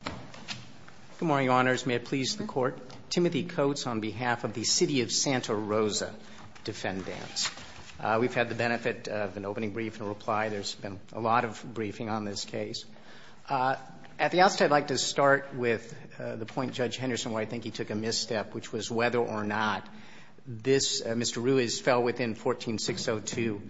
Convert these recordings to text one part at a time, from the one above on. Good morning, Your Honors. May it please the Court? Timothy Coates on behalf of the City of Santa Rosa Defendants. We've had the benefit of an opening brief and a reply. There's been a lot of briefing on this case. At the outset, I'd like to start with the point Judge Henderson, where I think he took a misstep, which was whether or not Mr. Ruiz fell within 14602.6 as an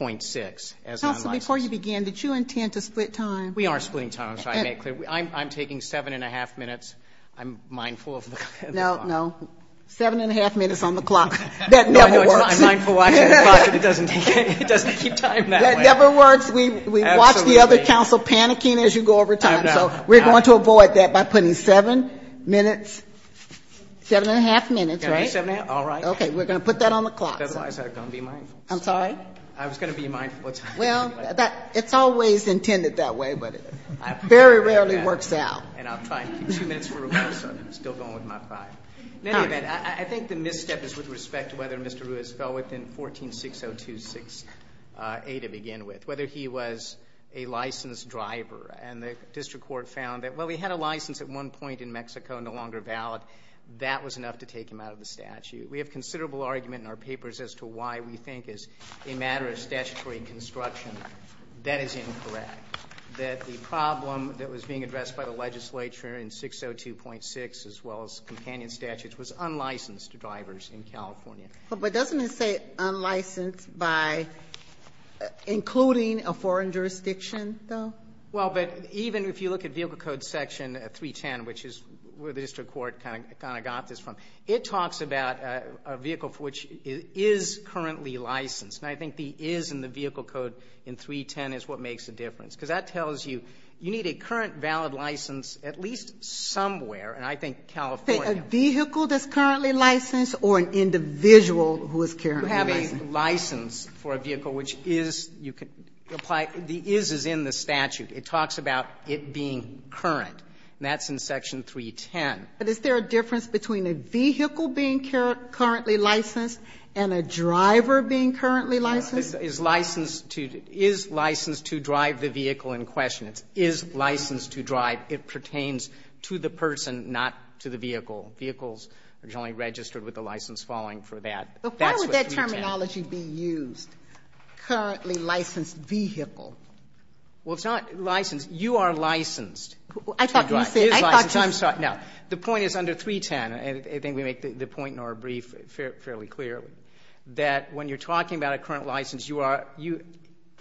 unlicensed. Counsel, before you begin, did you intend to split time? We are splitting time. I'm taking seven and a half minutes. I'm mindful of the clock. No, no. Seven and a half minutes on the clock. That never works. I'm mindful watching the clock, but it doesn't keep time that way. That never works. We watch the other counsel panicking as you go over time. So we're going to avoid that by putting seven minutes. Seven and a half minutes, right? All right. Okay. We're going to put that on the clock. Otherwise, I don't be mindful. I'm sorry? I was going to be mindful of time. Well, it's always intended that way, but it very rarely works out. And I'll try to keep two minutes for a while, so I'm still going with my five. In any event, I think the misstep is with respect to whether Mr. Ruiz fell within 14602.6A to begin with, whether he was a licensed driver. And the district court found that, well, he had a license at one point in Mexico and no longer valid. That was enough to take him out of the statute. We have considerable argument in our papers as to why we think it's a matter of statutory construction. That is incorrect, that the problem that was being addressed by the legislature in 602.6, as well as companion statutes, was unlicensed drivers in California. But doesn't it say unlicensed by including a foreign jurisdiction, though? Well, but even if you look at Vehicle Code Section 310, which is where the district court kind of got this from, it talks about a vehicle for which it is currently licensed. And I think the is in the Vehicle Code in 310 is what makes the difference, because that tells you you need a current valid license at least somewhere, and I think California. A vehicle that's currently licensed or an individual who is currently licensed? You have a license for a vehicle which is, you can apply, the is is in the statute. It talks about it being current, and that's in Section 310. But is there a difference between a vehicle being currently licensed and a driver being currently licensed? Yeah. Is licensed to drive the vehicle in question. It's is licensed to drive. It pertains to the person, not to the vehicle. Vehicles are generally registered with a license following for that. That's what 310. But why would that terminology be used, currently licensed vehicle? Well, it's not licensed. You are licensed to drive. I thought you said I thought you said. No. The point is under 310, and I think we make the point in our brief fairly clearly, that when you're talking about a current license, you are, you,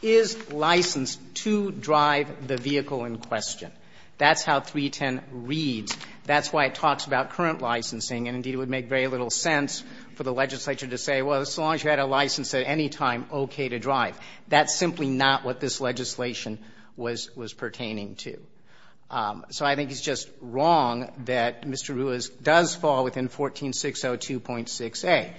is licensed to drive the vehicle in question. That's how 310 reads. That's why it talks about current licensing, and indeed it would make very little sense for the legislature to say, well, as long as you had a license at any time, okay to drive. That's simply not what this legislation was, was pertaining to. So I think it's just wrong that Mr. Ruiz does fall within 14602.6a.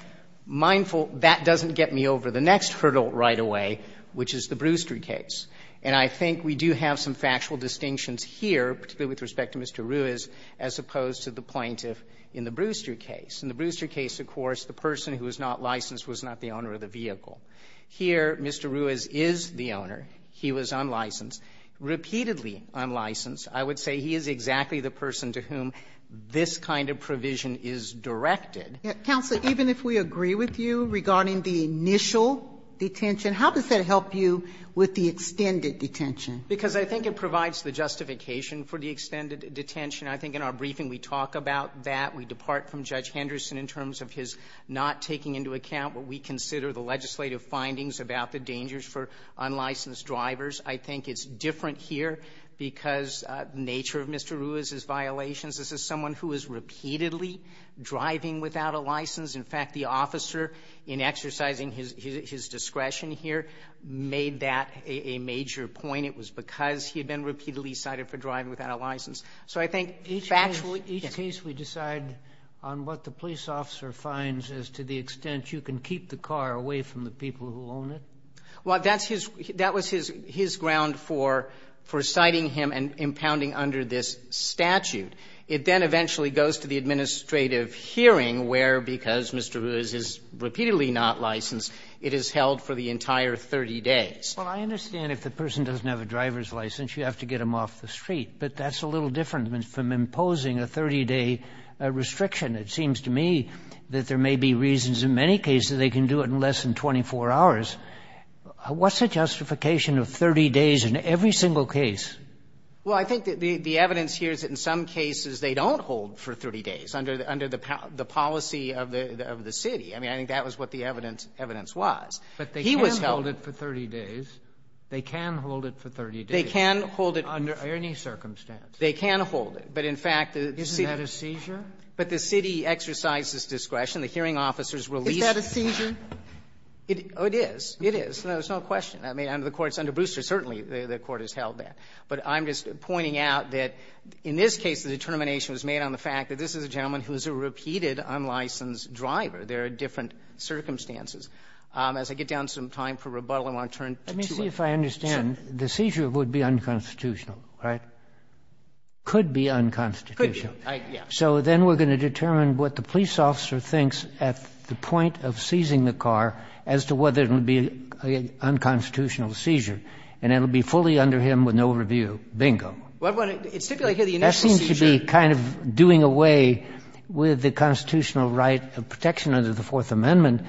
Mindful, that doesn't get me over the next hurdle right away, which is the Brewster case, and I think we do have some factual distinctions here, particularly with respect to Mr. Ruiz, as opposed to the plaintiff in the Brewster case. In the Brewster case, of course, the person who was not licensed was not the owner of the vehicle. Here, Mr. Ruiz is the owner. He was unlicensed. Repeatedly unlicensed. I would say he is exactly the person to whom this kind of provision is directed. Counselor, even if we agree with you regarding the initial detention, how does that help you with the extended detention? Because I think it provides the justification for the extended detention. I think in our briefing we talk about that. We depart from Judge Henderson in terms of his not taking into account what we consider the legislative findings about the dangers for unlicensed drivers. I think it's different here because the nature of Mr. Ruiz's violations. This is someone who is repeatedly driving without a license. In fact, the officer, in exercising his discretion here, made that a major point. It was because he had been repeatedly cited for driving without a license. So I think factually, yes. Each case we decide on what the police officer finds as to the extent you can keep the car away from the people who own it? Well, that's his – that was his ground for citing him and impounding under this statute. It then eventually goes to the administrative hearing where, because Mr. Ruiz is repeatedly not licensed, it is held for the entire 30 days. Well, I understand if the person doesn't have a driver's license, you have to get them off the street. But that's a little different from imposing a 30-day restriction. It seems to me that there may be reasons in many cases they can do it in less than 24 hours. What's the justification of 30 days in every single case? Well, I think that the evidence here is that in some cases they don't hold for 30 days under the policy of the city. I mean, I think that was what the evidence was. He was held. But they can hold it for 30 days. They can hold it for 30 days. They can hold it. Under any circumstance. They can hold it. But in fact, the city – Isn't that a seizure? But the city exercises discretion. The hearing officers release – Is that a seizure? It is. It is. There's no question. I mean, under the courts, under Brewster, certainly the court has held that. But I'm just pointing out that in this case the determination was made on the fact that this is a gentleman who is a repeated unlicensed driver. There are different circumstances. As I get down to some time for rebuttal, I want to turn to two others. Let me see if I understand. Sure. The seizure would be unconstitutional, right? Could be unconstitutional. Could be, yes. So then we're going to determine what the police officer thinks at the point of seizing the car as to whether it will be an unconstitutional seizure, and it will be fully under him with no review. Bingo. Well, it stipulated here the initial seizure. That seems to be kind of doing away with the constitutional right of protection under the Fourth Amendment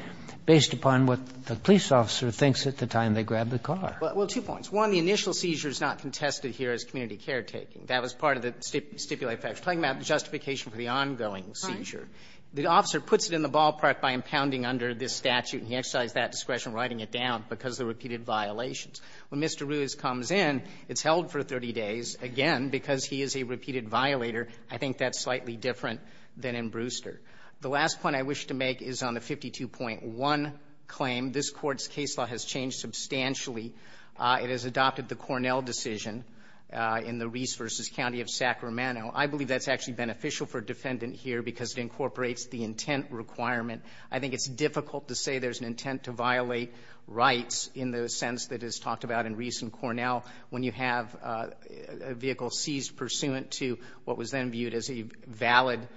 based upon what the police officer thinks at the time they grabbed the car. Well, two points. One, the initial seizure is not contested here as community caretaking. That was part of the stipulated facts. It's talking about justification for the ongoing seizure. The officer puts it in the ballpark by impounding under this statute, and he exercised that discretion writing it down because of the repeated violations. When Mr. Ruiz comes in, it's held for 30 days. Again, because he is a repeated violator, I think that's slightly different than in Brewster. The last point I wish to make is on the 52.1 claim. This Court's case law has changed substantially. It has adopted the Cornell decision in the Reese v. County of Sacramento. I believe that's actually beneficial for a defendant here because it incorporates the intent requirement. I think it's difficult to say there's an intent to violate rights in the sense that is talked about in Reese and Cornell when you have a vehicle seized pursuant to what was then viewed as a valid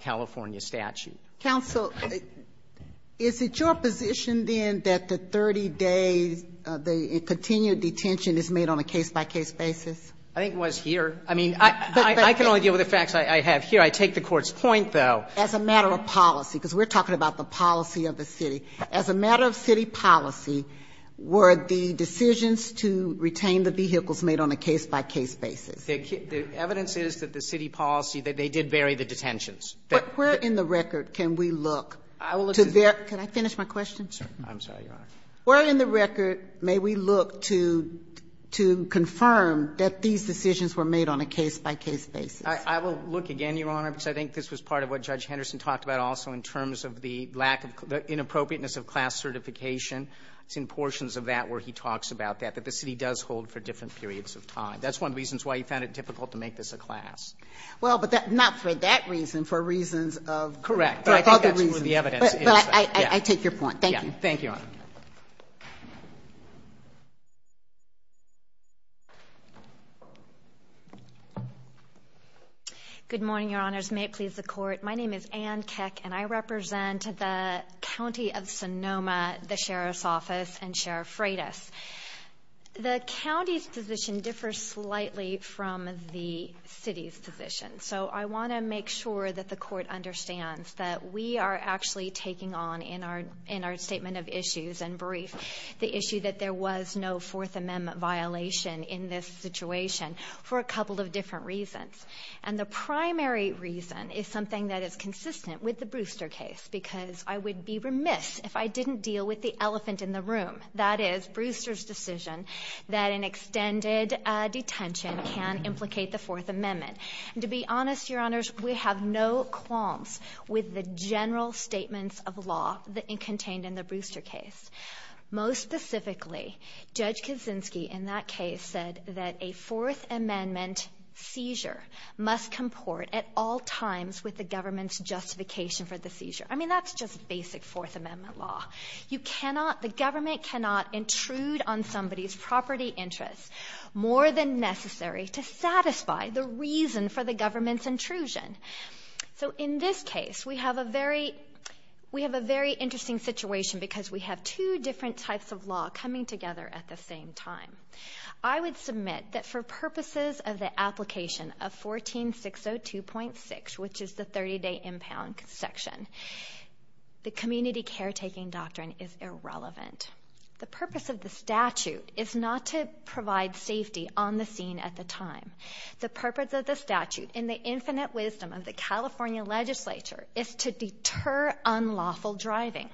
California statute. Counsel, is it your position then that the 30 days, the continued detention is made on a case-by-case basis? I think it was here. I mean, I can only deal with the facts I have here. I take the Court's point, though. As a matter of policy, because we're talking about the policy of the city. As a matter of city policy, were the decisions to retain the vehicles made on a case-by-case basis? The evidence is that the city policy, that they did vary the detentions. Where in the record can we look to verify? Can I finish my question? I'm sorry, Your Honor. Where in the record may we look to confirm that these decisions were made on a case-by-case basis? I will look again, Your Honor, because I think this was part of what Judge Henderson talked about also in terms of the lack of the inappropriateness of class certification. It's in portions of that where he talks about that, that the city does hold for different periods of time. That's one of the reasons why he found it difficult to make this a class. Well, but not for that reason. For reasons of other reasons. Correct. But I think that's where the evidence is. But I take your point. Thank you. Thank you, Your Honor. Good morning, Your Honors. May it please the Court. My name is Ann Keck, and I represent the County of Sonoma, the Sheriff's Office, and Sheriff Freitas. The county's position differs slightly from the city's position, so I want to make sure that the Court understands that we are actually taking on, in our statement of issues and brief, the issue that there was no Fourth Amendment violation in this situation for a couple of different reasons. And the primary reason is something that is consistent with the Brewster case, because I would be remiss if I didn't deal with the elephant in the room, that is, Brewster's decision that an extended detention can implicate the Fourth Amendment. And to be honest, Your Honors, we have no qualms with the general statements of law that are contained in the Brewster case. Most specifically, Judge Kaczynski, in that case, said that a Fourth Amendment seizure must comport at all times with the government's justification for the seizure. I mean, that's just basic Fourth Amendment law. You cannot, the government cannot intrude on somebody's property interests more than necessary to satisfy the reason for the government's intrusion. So in this case, we have a very interesting situation because we have two different types of law coming together at the same time. I would submit that for purposes of the application of 14602.6, which is the 30-day impound section, the community caretaking doctrine is irrelevant. The purpose of the statute is not to provide safety on the scene at the time. The purpose of the statute, in the infinite wisdom of the California legislature, is to deter unlawful driving.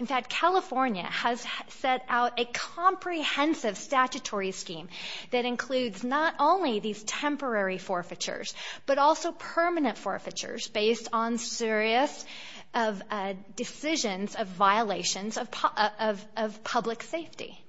In fact, California has set out a comprehensive statutory scheme that includes not only these temporary forfeitures, but also permanent forfeitures based on serious decisions of violations of public safety.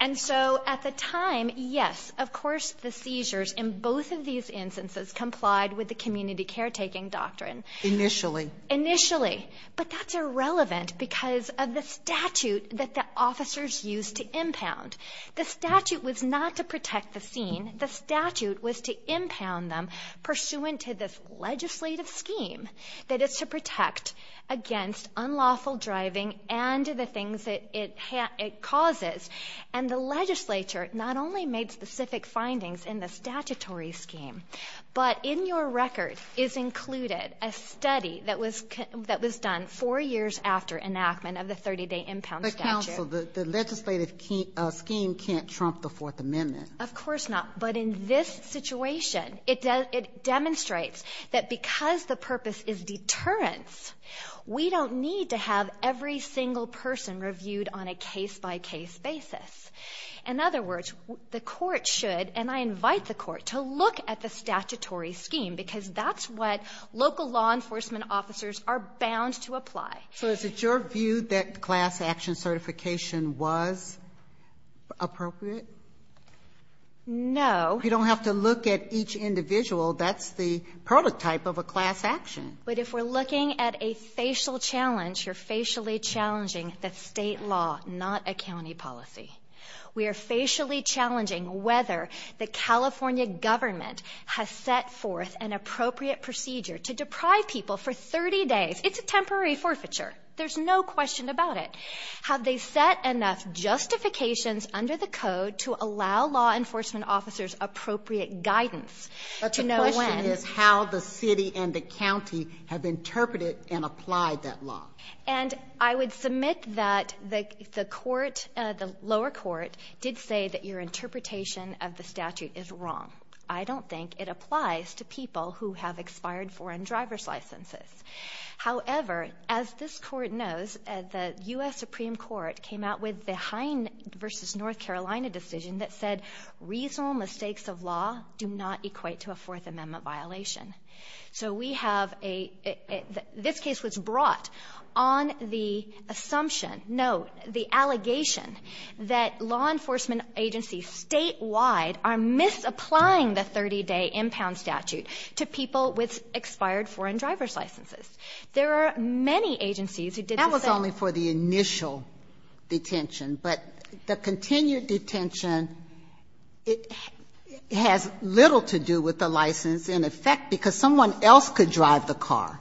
And so at the time, yes, of course the seizures in both of these instances complied with the community caretaking doctrine. Initially. Initially. But that's irrelevant because of the statute that the officers used to impound. The statute was not to protect the scene. The statute was to impound them pursuant to this legislative scheme that is to protect against unlawful driving and the things that it causes. And the legislature not only made specific findings in the statutory scheme, but in your record is included a study that was done four years after enactment of the 30-day impound statute. But counsel, the legislative scheme can't trump the Fourth Amendment. Of course not. But in this situation, it demonstrates that because the purpose is deterrence, we don't need to have every single person reviewed on a case-by-case basis. In other words, the court should, and I invite the court to look at the statutory scheme because that's what local law enforcement officers are bound to apply. So is it your view that class action certification was appropriate? No. You don't have to look at each individual. That's the prototype of a class action. But if we're looking at a facial challenge, you're facially challenging the State law, not a county policy. We are facially challenging whether the California government has set forth an appropriate procedure to deprive people for 30 days. It's a temporary forfeiture. There's no question about it. Have they set enough justifications under the code to allow law enforcement officers appropriate guidance to know when? But the question is how the city and the county have interpreted and applied that law. And I would submit that the court, the lower court, did say that your interpretation of the statute is wrong. I don't think it applies to people who have expired foreign driver's licenses. However, as this Court knows, the U.S. Supreme Court came out with the Hine v. North Carolina decision that said reasonable mistakes of law do not equate to a Fourth Amendment violation. So we have a — this case was brought on the assumption — no, the allegation that law enforcement agencies statewide are misapplying the 30-day impound statute to people with expired foreign driver's licenses. There are many agencies who did the same. That was only for the initial detention. But the continued detention, it has little to do with the license in effect because someone else could drive the car.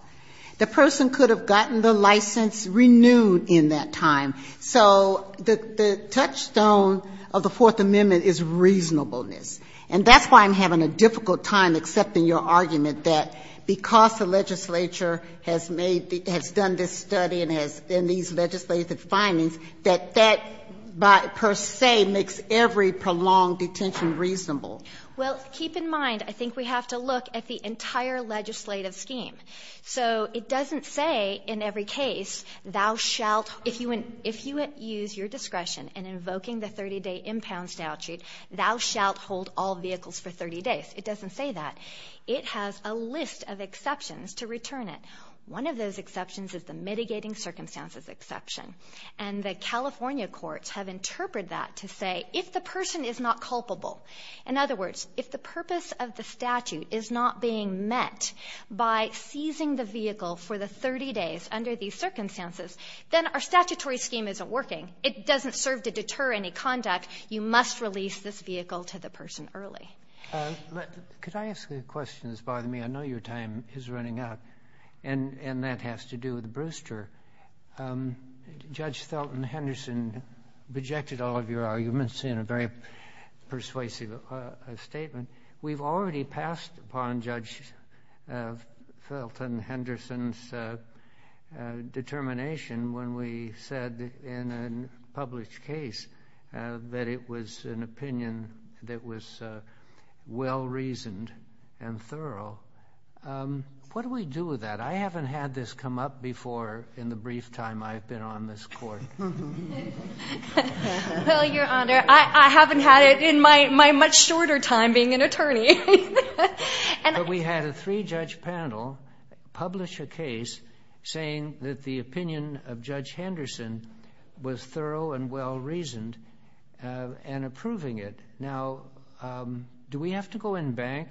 The person could have gotten the license renewed in that time. So the touchstone of the Fourth Amendment is reasonableness. And that's why I'm having a difficult time accepting your argument that because the legislature has made — has done this study and has — in these legislative findings, that that per se makes every prolonged detention reasonable. Well, keep in mind, I think we have to look at the entire legislative scheme. So it doesn't say in every case, thou shalt — if you use your discretion in invoking the 30-day impound statute, thou shalt hold all vehicles for 30 days. It doesn't say that. It has a list of exceptions to return it. One of those exceptions is the mitigating circumstances exception. And the California courts have interpreted that to say if the person is not culpable, in other words, if the purpose of the statute is not being met by seizing the vehicle for the 30 days under these circumstances, then our statutory scheme isn't working. It doesn't serve to deter any conduct. You must release this vehicle to the person early. Could I ask a question that's bothering me? I know your time is running out, and that has to do with Brewster. Judge Felton Henderson rejected all of your arguments in a very persuasive statement. We've already passed upon Judge Felton Henderson's determination when we said in a published case that it was an opinion that was well-reasoned and thorough. What do we do with that? I haven't had this come up before in the brief time I've been on this Court. Well, Your Honor, I haven't had it in my much shorter time being an attorney. But we had a three-judge panel publish a case saying that the opinion of Judge Henderson was thorough and well-reasoned and approving it. Now, do we have to go in bank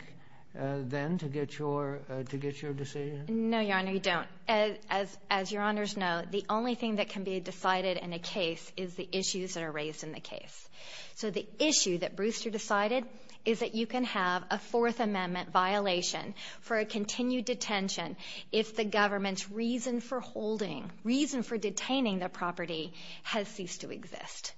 then to get your decision? No, Your Honor, you don't. As Your Honors know, the only thing that can be decided in a case is the issues that are raised in the case. So the issue that Brewster decided is that you can have a Fourth Amendment violation for a continued detention if the government's reason for holding, reason for detaining the property has ceased to exist.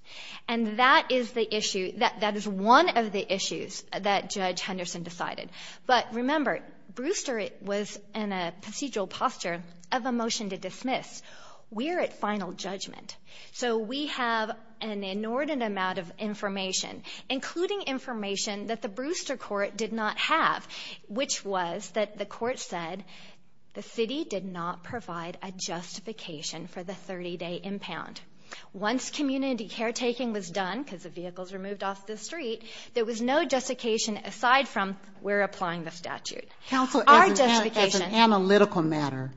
And that is the issue. That is one of the issues that Judge Henderson decided. But remember, Brewster was in a procedural posture of a motion to dismiss. We're at final judgment. So we have an inordinate amount of information, including information that the Brewster court did not have, which was that the court said the city did not provide a justification for the 30-day impound. Once community caretaking was done, because the vehicles were moved off the street, there was no justification aside from we're applying the statute. Counsel, as an analytical matter,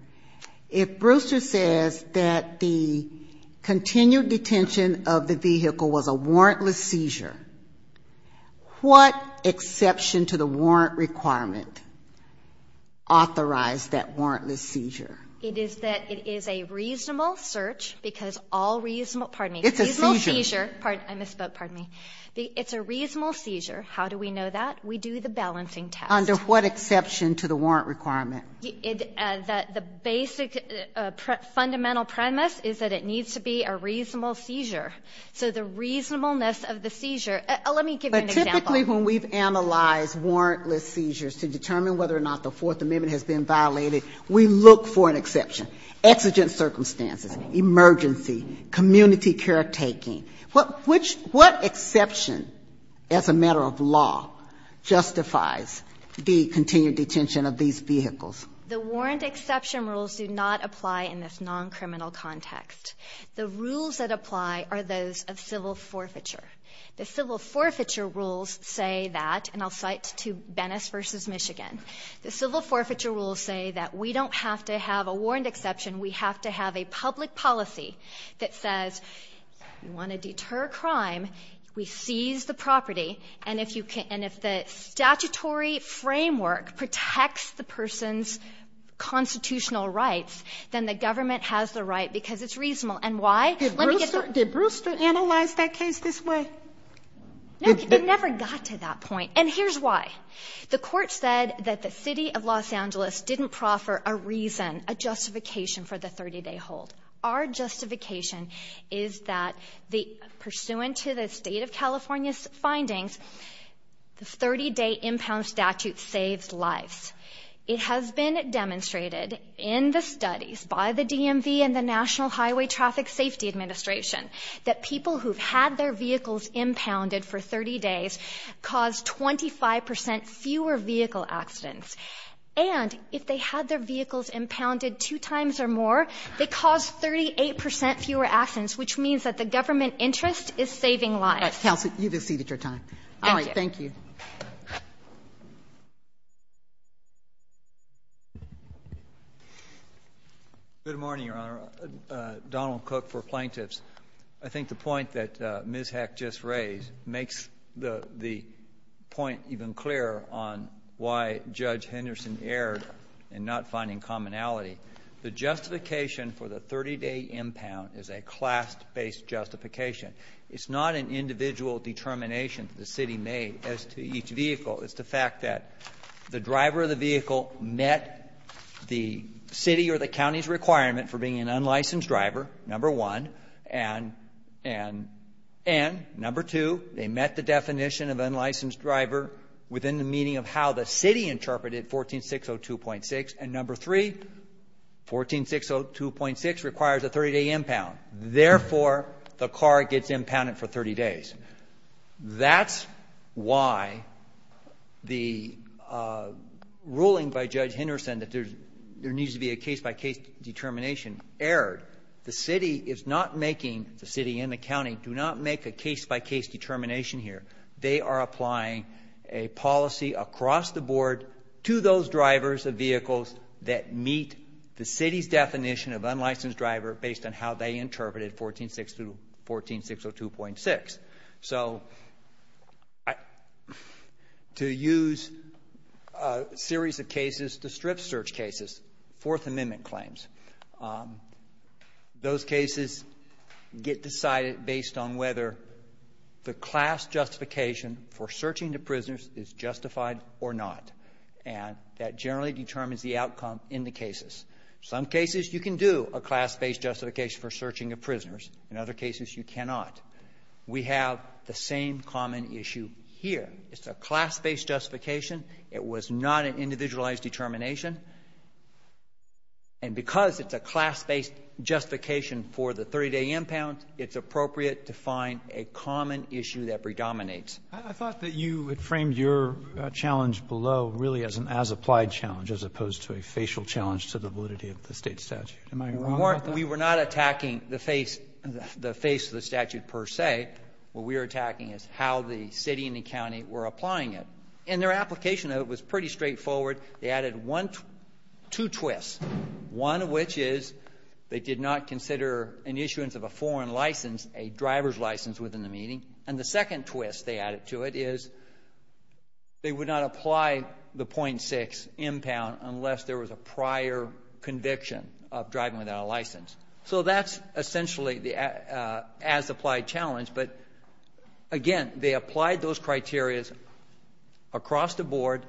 if Brewster says that the continued detention of the vehicle was a warrantless seizure, what exception to the warrant requirement authorized that warrantless seizure? It is that it is a reasonable search because all reasonable, pardon me. It's a seizure. I misspoke, pardon me. It's a reasonable seizure. How do we know that? We do the balancing test. Under what exception to the warrant requirement? The basic fundamental premise is that it needs to be a reasonable seizure. So the reasonableness of the seizure, let me give you an example. But typically when we've analyzed warrantless seizures to determine whether or not the Fourth Amendment has been violated, we look for an exception. Exigent circumstances, emergency, community caretaking. What exception as a matter of law justifies the continued detention of these vehicles? The warrant exception rules do not apply in this non-criminal context. The rules that apply are those of civil forfeiture. The civil forfeiture rules say that, and I'll cite to Venice v. Michigan, the civil forfeiture rules say that we don't have to have a warrant exception. We have to have a public policy that says we want to deter crime. We seize the property. And if you can – and if the statutory framework protects the person's constitutional rights, then the government has the right because it's reasonable. And why? Let me get the question. Did Brewster analyze that case this way? No. It never got to that point. And here's why. The court said that the City of Los Angeles didn't proffer a reason, a justification for the 30-day hold. Our justification is that, pursuant to the State of California's findings, the 30-day impound statute saves lives. It has been demonstrated in the studies by the DMV and the National Highway Traffic Safety Administration that people who've had their vehicles impounded for 30 days cause 25 percent fewer vehicle accidents. And if they had their vehicles impounded two times or more, they cause 38 percent fewer accidents, which means that the government interest is saving lives. Counsel, you've exceeded your time. Thank you. All right. Thank you. Good morning, Your Honor. Donald Cook for plaintiffs. I think the point that Ms. Heck just raised makes the point even clearer on why Judge Henderson erred in not finding commonality. The justification for the 30-day impound is a class-based justification. It's not an individual determination the city made as to each vehicle. It's the fact that the driver of the vehicle met the city or the county's requirement for being an unlicensed driver, number one, and number two, they met the definition of unlicensed driver within the meaning of how the city interpreted 14602.6, and number three, 14602.6 requires a 30-day impound. Therefore, the car gets impounded for 30 days. That's why the ruling by Judge Henderson that there needs to be a case by case determination erred. The city is not making, the city and the county, do not make a case by case determination here. They are applying a policy across the board to those drivers of vehicles that meet the city's definition of unlicensed driver based on how they interpreted 14602.6. So to use a series of cases to strip search cases, Fourth Amendment claims, those cases get decided based on whether the class justification for searching the prisoners is justified or not, and that generally determines the outcome in the cases. Some cases you can do a class-based justification for searching of prisoners. In other cases, you cannot. We have the same common issue here. It's a class-based justification. It was not an individualized determination. And because it's a class-based justification for the 30-day impound, it's appropriate to find a common issue that predominates. I thought that you had framed your challenge below really as an as-applied challenge as opposed to a facial challenge to the validity of the State statute. Am I wrong about that? We were not attacking the face of the statute per se. What we were attacking is how the city and the county were applying it. And their application of it was pretty straightforward. They added two twists, one of which is they did not consider an issuance of a foreign license a driver's license within the meeting, and the second twist they added to it is they would not apply the .6 impound unless there was a prior conviction of driving without a license. So that's essentially the as-applied challenge. But, again, they applied those criterias across the board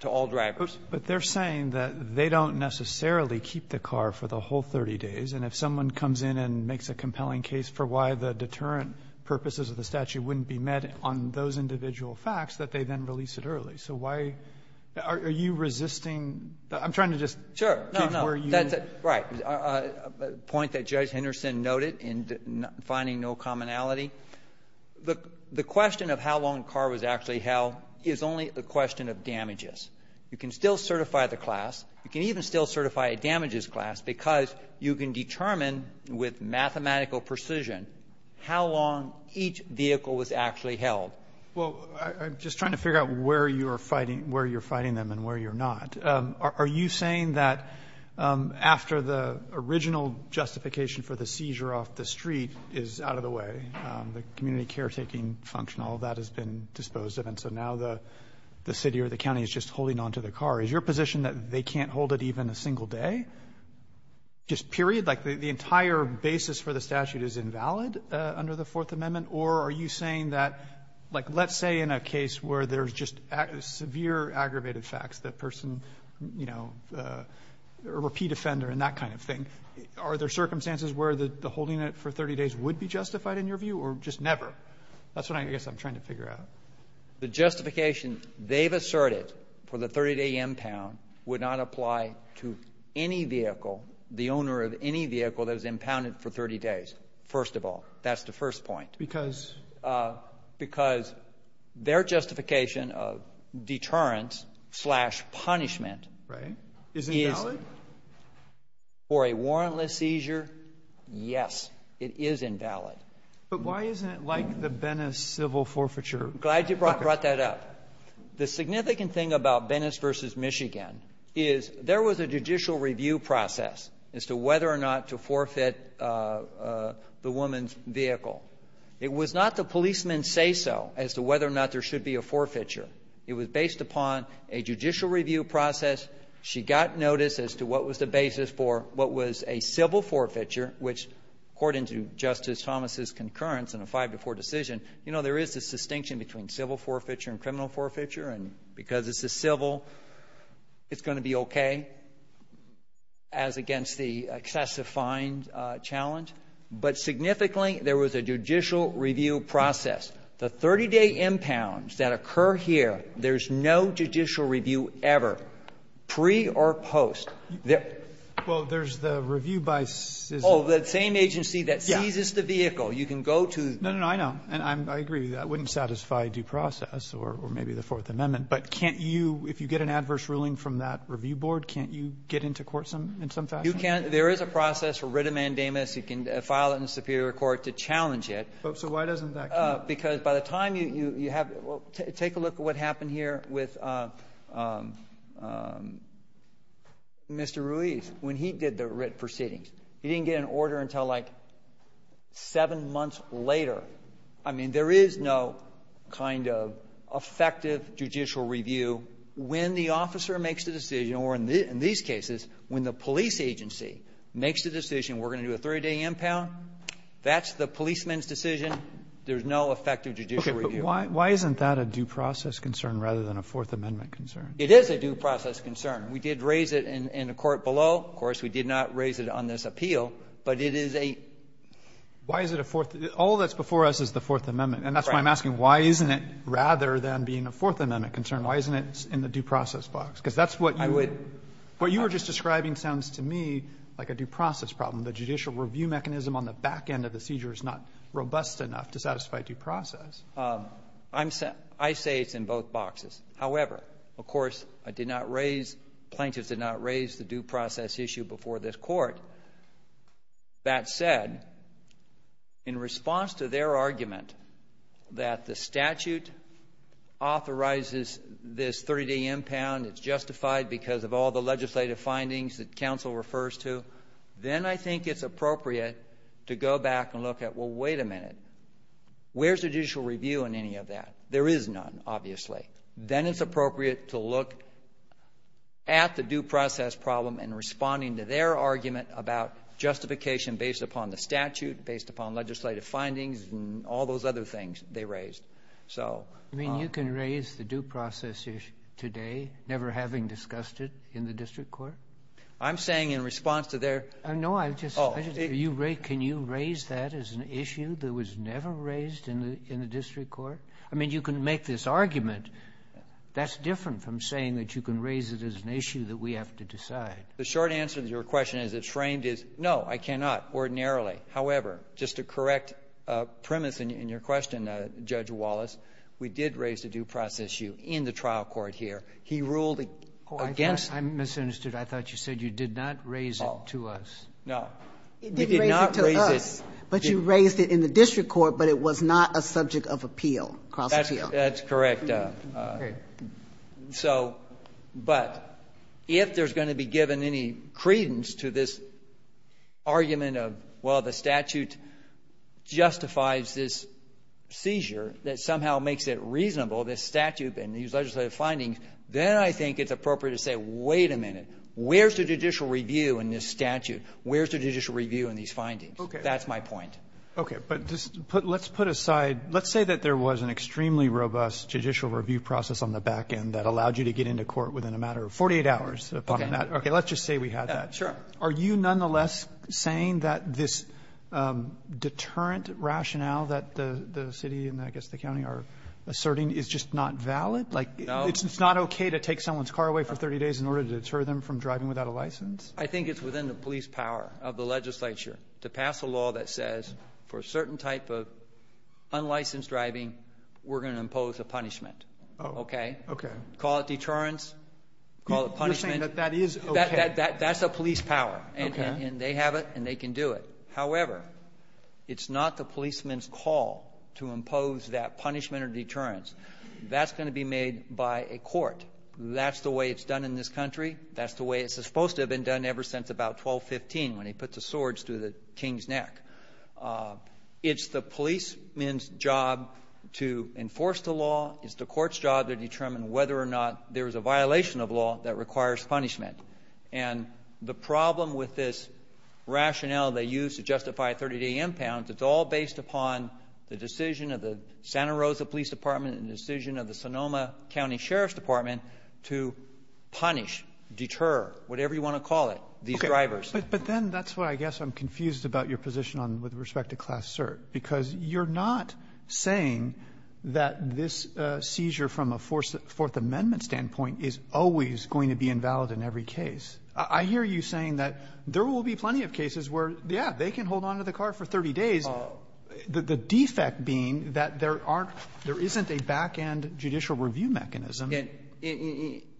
to all drivers. But they're saying that they don't necessarily keep the car for the whole 30 days, and if someone comes in and makes a compelling case for why the deterrent purposes of the statute wouldn't be met on those individual facts, that they then release it early. So why? Are you resisting? I'm trying to just keep where you are. Sure. Right. A point that Judge Henderson noted in finding no commonality. The question of how long the car was actually held is only a question of damages. You can still certify the class. You can even still certify a damages class because you can determine with mathematical precision how long each vehicle was actually held. Well, I'm just trying to figure out where you are fighting them and where you're not. Are you saying that after the original justification for the seizure off the street is out of the way, the community caretaking function, all that has been disposed of, and so now the city or the county is just holding on to the car, is your position that they can't hold it even a single day? Just period? Like the entire basis for the statute is invalid under the Fourth Amendment? Or are you saying that, like let's say in a case where there's just severe aggravated facts, the person, you know, a repeat offender and that kind of thing, are there circumstances where the holding it for 30 days would be justified in your view or just never? That's what I guess I'm trying to figure out. The justification they've asserted for the 30-day impound would not apply to any vehicle, the owner of any vehicle that was impounded for 30 days, first of all. That's the first point. Because? Because their justification of deterrence slash punishment is invalid? For a warrantless seizure, yes, it is invalid. But why isn't it like the Benes civil forfeiture? Glad you brought that up. The significant thing about Benes v. Michigan is there was a judicial review process as to whether or not to forfeit the woman's vehicle. It was not the policemen say so as to whether or not there should be a forfeiture. It was based upon a judicial review process. She got notice as to what was the basis for what was a civil forfeiture, which according to Justice Thomas' concurrence in a 5-4 decision, you know, there is this distinction between civil forfeiture and criminal forfeiture. And because it's a civil, it's going to be okay as against the excessive fine challenge. But significantly, there was a judicial review process. The 30-day impounds that occur here, there's no judicial review ever, pre or post. Well, there's the review by CISA. Oh, the same agency that seizes the vehicle. You can go to the – No, no, no. I know. And I agree. That wouldn't satisfy due process or maybe the Fourth Amendment. But can't you – if you get an adverse ruling from that review board, can't you get into court in some fashion? You can't. There is a process for writ of mandamus. You can file it in the Superior Court to challenge it. So why doesn't that count? Because by the time you have – take a look at what happened here with Mr. Ruiz when he did the writ proceedings. He didn't get an order until like seven months later. I mean, there is no kind of effective judicial review when the officer makes the decision or in these cases when the police agency makes the decision we're going to do a 30-day impound. That's the policeman's decision. There's no effective judicial review. Okay. But why isn't that a due process concern rather than a Fourth Amendment concern? It is a due process concern. We did raise it in the court below. Of course, we did not raise it on this appeal. But it is a – Why is it a Fourth – all that's before us is the Fourth Amendment. And that's why I'm asking why isn't it rather than being a Fourth Amendment concern, why isn't it in the due process box? Because that's what you – I would – What you were just describing sounds to me like a due process problem. The judicial review mechanism on the back end of the seizure is not robust enough to satisfy due process. I'm – I say it's in both boxes. However, of course, I did not raise – plaintiffs did not raise the due process issue before this court. That said, in response to their argument that the statute authorizes this 30-day impound, it's justified because of all the legislative findings that counsel refers to, then I think it's appropriate to go back and look at, well, wait a minute, where's the judicial review in any of that? There is none, obviously. Then it's appropriate to look at the due process problem in responding to their argument about justification based upon the statute, based upon legislative findings, and all those other things they raised. So – You mean you can raise the due process issue today, never having discussed it in the district court? I'm saying in response to their – No, I'm just – Oh. Can you raise that as an issue that was never raised in the district court? I mean, you can make this argument. That's different from saying that you can raise it as an issue that we have to decide. The short answer to your question, as it's framed, is no, I cannot ordinarily. However, just to correct a premise in your question, Judge Wallace, we did raise the due process issue in the trial court here. He ruled against – Oh, I misunderstood. I thought you said you did not raise it to us. No. We did not raise it – That's correct. So, but if there's going to be given any credence to this argument of, well, the statute justifies this seizure that somehow makes it reasonable, this statute and these legislative findings, then I think it's appropriate to say, wait a minute, where's the judicial review in this statute? Where's the judicial review in these findings? That's my point. Okay. But let's put aside – let's say that there was an extremely robust judicial review process on the back end that allowed you to get into court within a matter of 48 hours. Okay. Let's just say we had that. Sure. Are you nonetheless saying that this deterrent rationale that the city and I guess the county are asserting is just not valid? No. Like, it's not okay to take someone's car away for 30 days in order to deter them from driving without a license? I think it's within the police power of the legislature to pass a law that says for a certain type of unlicensed driving, we're going to impose a punishment. Oh. Okay? Okay. Call it deterrence. Call it punishment. You're saying that that is okay? That's a police power. Okay. And they have it and they can do it. However, it's not the policeman's call to impose that punishment or deterrence. That's going to be made by a court. That's the way it's done in this country. That's the way it's supposed to have been done ever since about 1215 when he puts a sword through the king's neck. It's the policeman's job to enforce the law. It's the court's job to determine whether or not there is a violation of law that requires punishment. And the problem with this rationale they use to justify a 30-day impound, it's all based upon the decision of the Santa Rosa Police Department and the decision of the Sonoma County Sheriff's Department to punish, deter, whatever you want to call it, these drivers. Okay. But then that's what I guess I'm confused about your position with respect to Class Cert. Because you're not saying that this seizure from a Fourth Amendment standpoint is always going to be invalid in every case. I hear you saying that there will be plenty of cases where, yeah, they can hold onto the car for 30 days. The defect being that there isn't a back-end judicial review mechanism.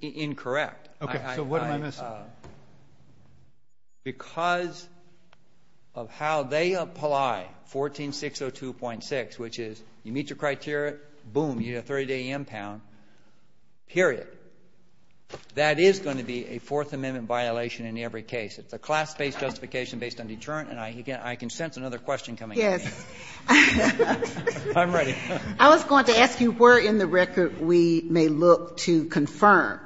Incorrect. Okay. So what am I missing? Because of how they apply 14602.6, which is you meet your criteria, boom, you get a 30-day impound, period. That is going to be a Fourth Amendment violation in every case. It's a class-based justification based on deterrent, and I can sense another question coming at me. Yes. I'm ready. I was going to ask you where in the record we may look to confirm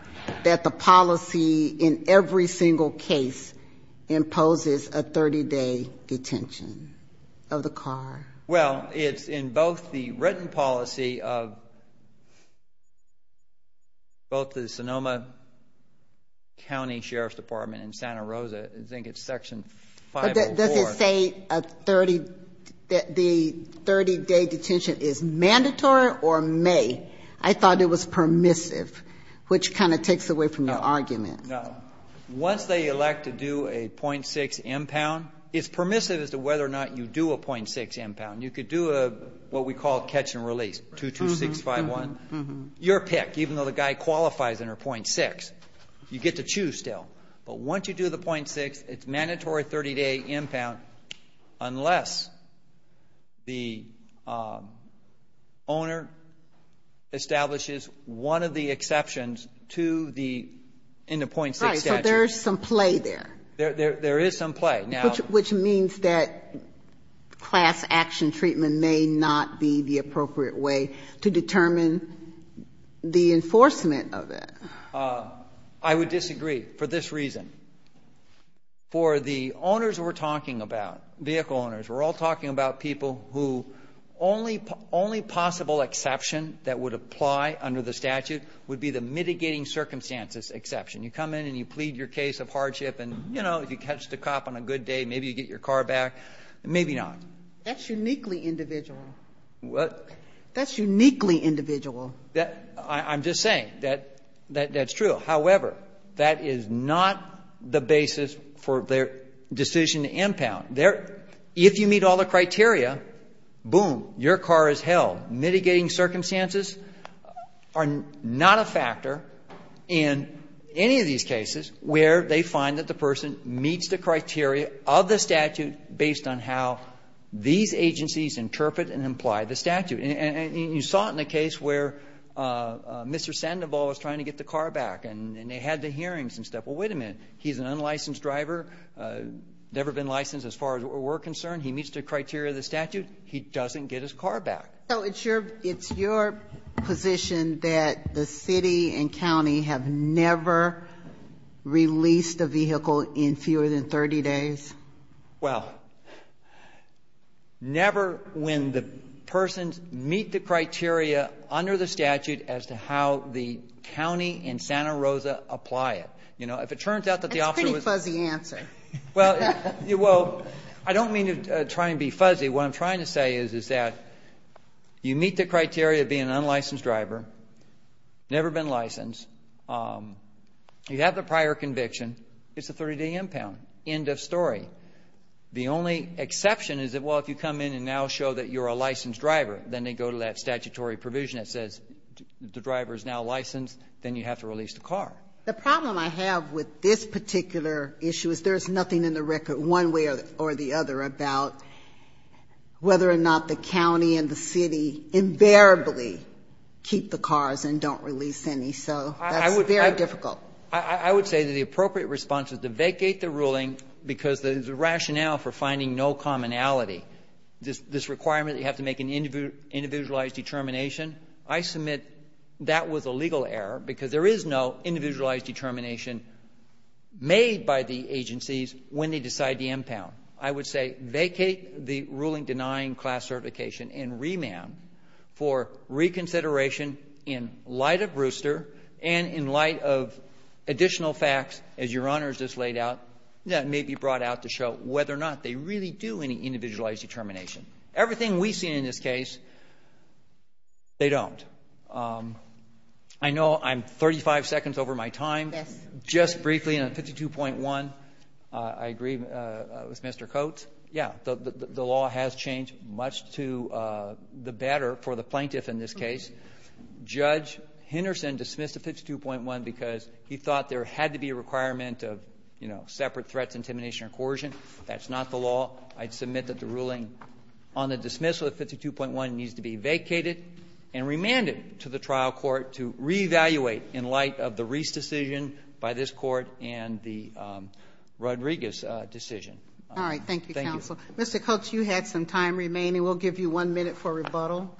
that the policy in every single case imposes a 30-day detention of the car. Well, it's in both the written policy of both the Sonoma County Sheriff's Department and Santa Rosa. I think it's section 504. But does it say a 30 the 30-day detention is mandatory or may? I thought it was permissive, which kind of takes away from your argument. No. Once they elect to do a .6 impound, it's permissive as to whether or not you do a .6 impound. You could do what we call catch and release, 22651. Your pick, even though the guy qualifies under .6, you get to choose still. But once you do the .6, it's mandatory 30-day impound unless the owner establishes one of the exceptions in the .6 statute. Right. So there's some play there. There is some play. Which means that class-action treatment may not be the appropriate way to determine the enforcement of it. I would disagree. For this reason, for the owners we're talking about, vehicle owners, we're all talking about people who only possible exception that would apply under the statute would be the mitigating circumstances exception. You come in and you plead your case of hardship and, you know, if you catch the cop on a good day, maybe you get your car back. Maybe not. That's uniquely individual. What? That's uniquely individual. I'm just saying that that's true. However, that is not the basis for their decision to impound. If you meet all the criteria, boom, your car is held. Mitigating circumstances are not a factor in any of these cases where they find that the person meets the criteria of the statute based on how these agencies interpret and apply the statute. And you saw it in the case where Mr. Sandoval was trying to get the car back. And they had the hearings and stuff. Well, wait a minute. He's an unlicensed driver, never been licensed as far as we're concerned. He meets the criteria of the statute. He doesn't get his car back. So it's your position that the city and county have never released a vehicle in fewer than 30 days? Well, never when the persons meet the criteria under the statute as to how the county and Santa Rosa apply it. You know, if it turns out that the officer was... That's a pretty fuzzy answer. Well, I don't mean to try and be fuzzy. What I'm trying to say is that you meet the criteria of being an unlicensed driver, never been licensed. You have the prior conviction. It's a 30-day impound. End of story. The only exception is that, well, if you come in and now show that you're a licensed driver, then they go to that statutory provision that says the driver is now licensed, then you have to release the car. The problem I have with this particular issue is there's nothing in the record one way or the other about whether or not the county and the city invariably keep the cars and don't release any. So that's very difficult. I would say that the appropriate response is to vacate the ruling because the rationale for finding no commonality, this requirement that you have to make an individualized determination, I submit that was a legal error because there is no individualized determination made by the agencies when they decide the impound. I would say vacate the ruling denying class certification and remand for reconsideration in light of Brewster and in light of additional facts, as Your Honor has just laid out, that may be brought out to show whether or not they really do any individualized determination. Everything we've seen in this case, they don't. I know I'm 35 seconds over my time. Yes. Just briefly on 52.1, I agree with Mr. Coates. Yeah, the law has changed much to the better for the plaintiff in this case. Judge Henderson dismissed the 52.1 because he thought there had to be a requirement of, you know, separate threats, intimidation, or coercion. That's not the law. I submit that the ruling on the dismissal of 52.1 needs to be vacated and remanded to the trial court to reevaluate in light of the Reese decision by this court and the Rodriguez decision. All right. Thank you, counsel. Mr. Coates, you had some time remaining. We'll give you one minute for rebuttal.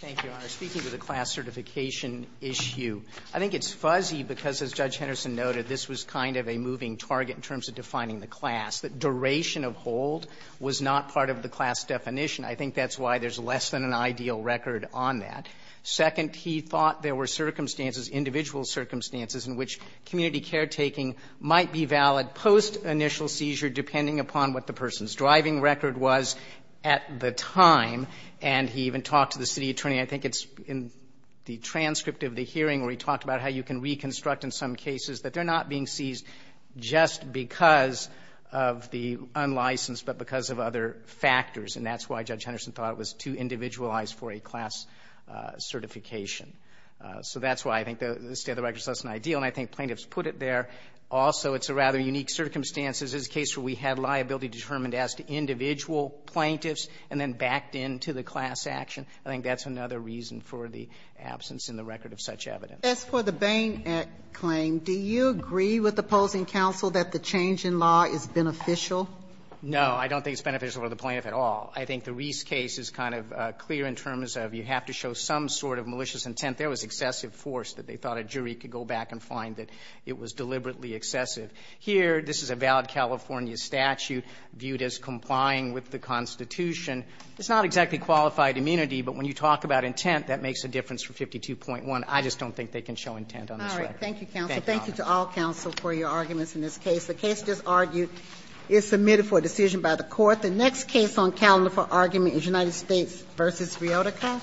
Thank you, Your Honor. Speaking to the class certification issue, I think it's fuzzy because, as Judge Henderson noted, this was kind of a moving target in terms of defining the class. The duration of hold was not part of the class definition. I think that's why there's less than an ideal record on that. Second, he thought there were circumstances, individual circumstances, in which community caretaking might be valid post-initial seizure depending upon what the person's driving record was at the time. And he even talked to the city attorney, I think it's in the transcript of the hearing where he talked about how you can reconstruct in some cases that they're not being seized just because of the unlicensed but because of other factors. And that's why Judge Henderson thought it was too individualized for a class certification. So that's why I think the state of the record is less than ideal. And I think plaintiffs put it there. Also, it's a rather unique circumstance. This is a case where we had liability determined as to individual plaintiffs and then backed into the class action. I think that's another reason for the absence in the record of such evidence. As for the Bain claim, do you agree with opposing counsel that the change in law is beneficial? No, I don't think it's beneficial to the plaintiff at all. I think the Reese case is kind of clear in terms of you have to show some sort of malicious intent. There was excessive force that they thought a jury could go back and find that it was deliberately excessive. Here, this is a valid California statute viewed as complying with the Constitution. It's not exactly qualified immunity, but when you talk about intent, that makes a difference for 52.1. I just don't think they can show intent on this record. Thank you, counsel. Thank you to all counsel for your arguments in this case. The case just argued is submitted for a decision by the Court. The next case on calendar for argument is United States v. Riodico.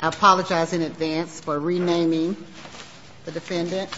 I apologize in advance for renaming the defendant.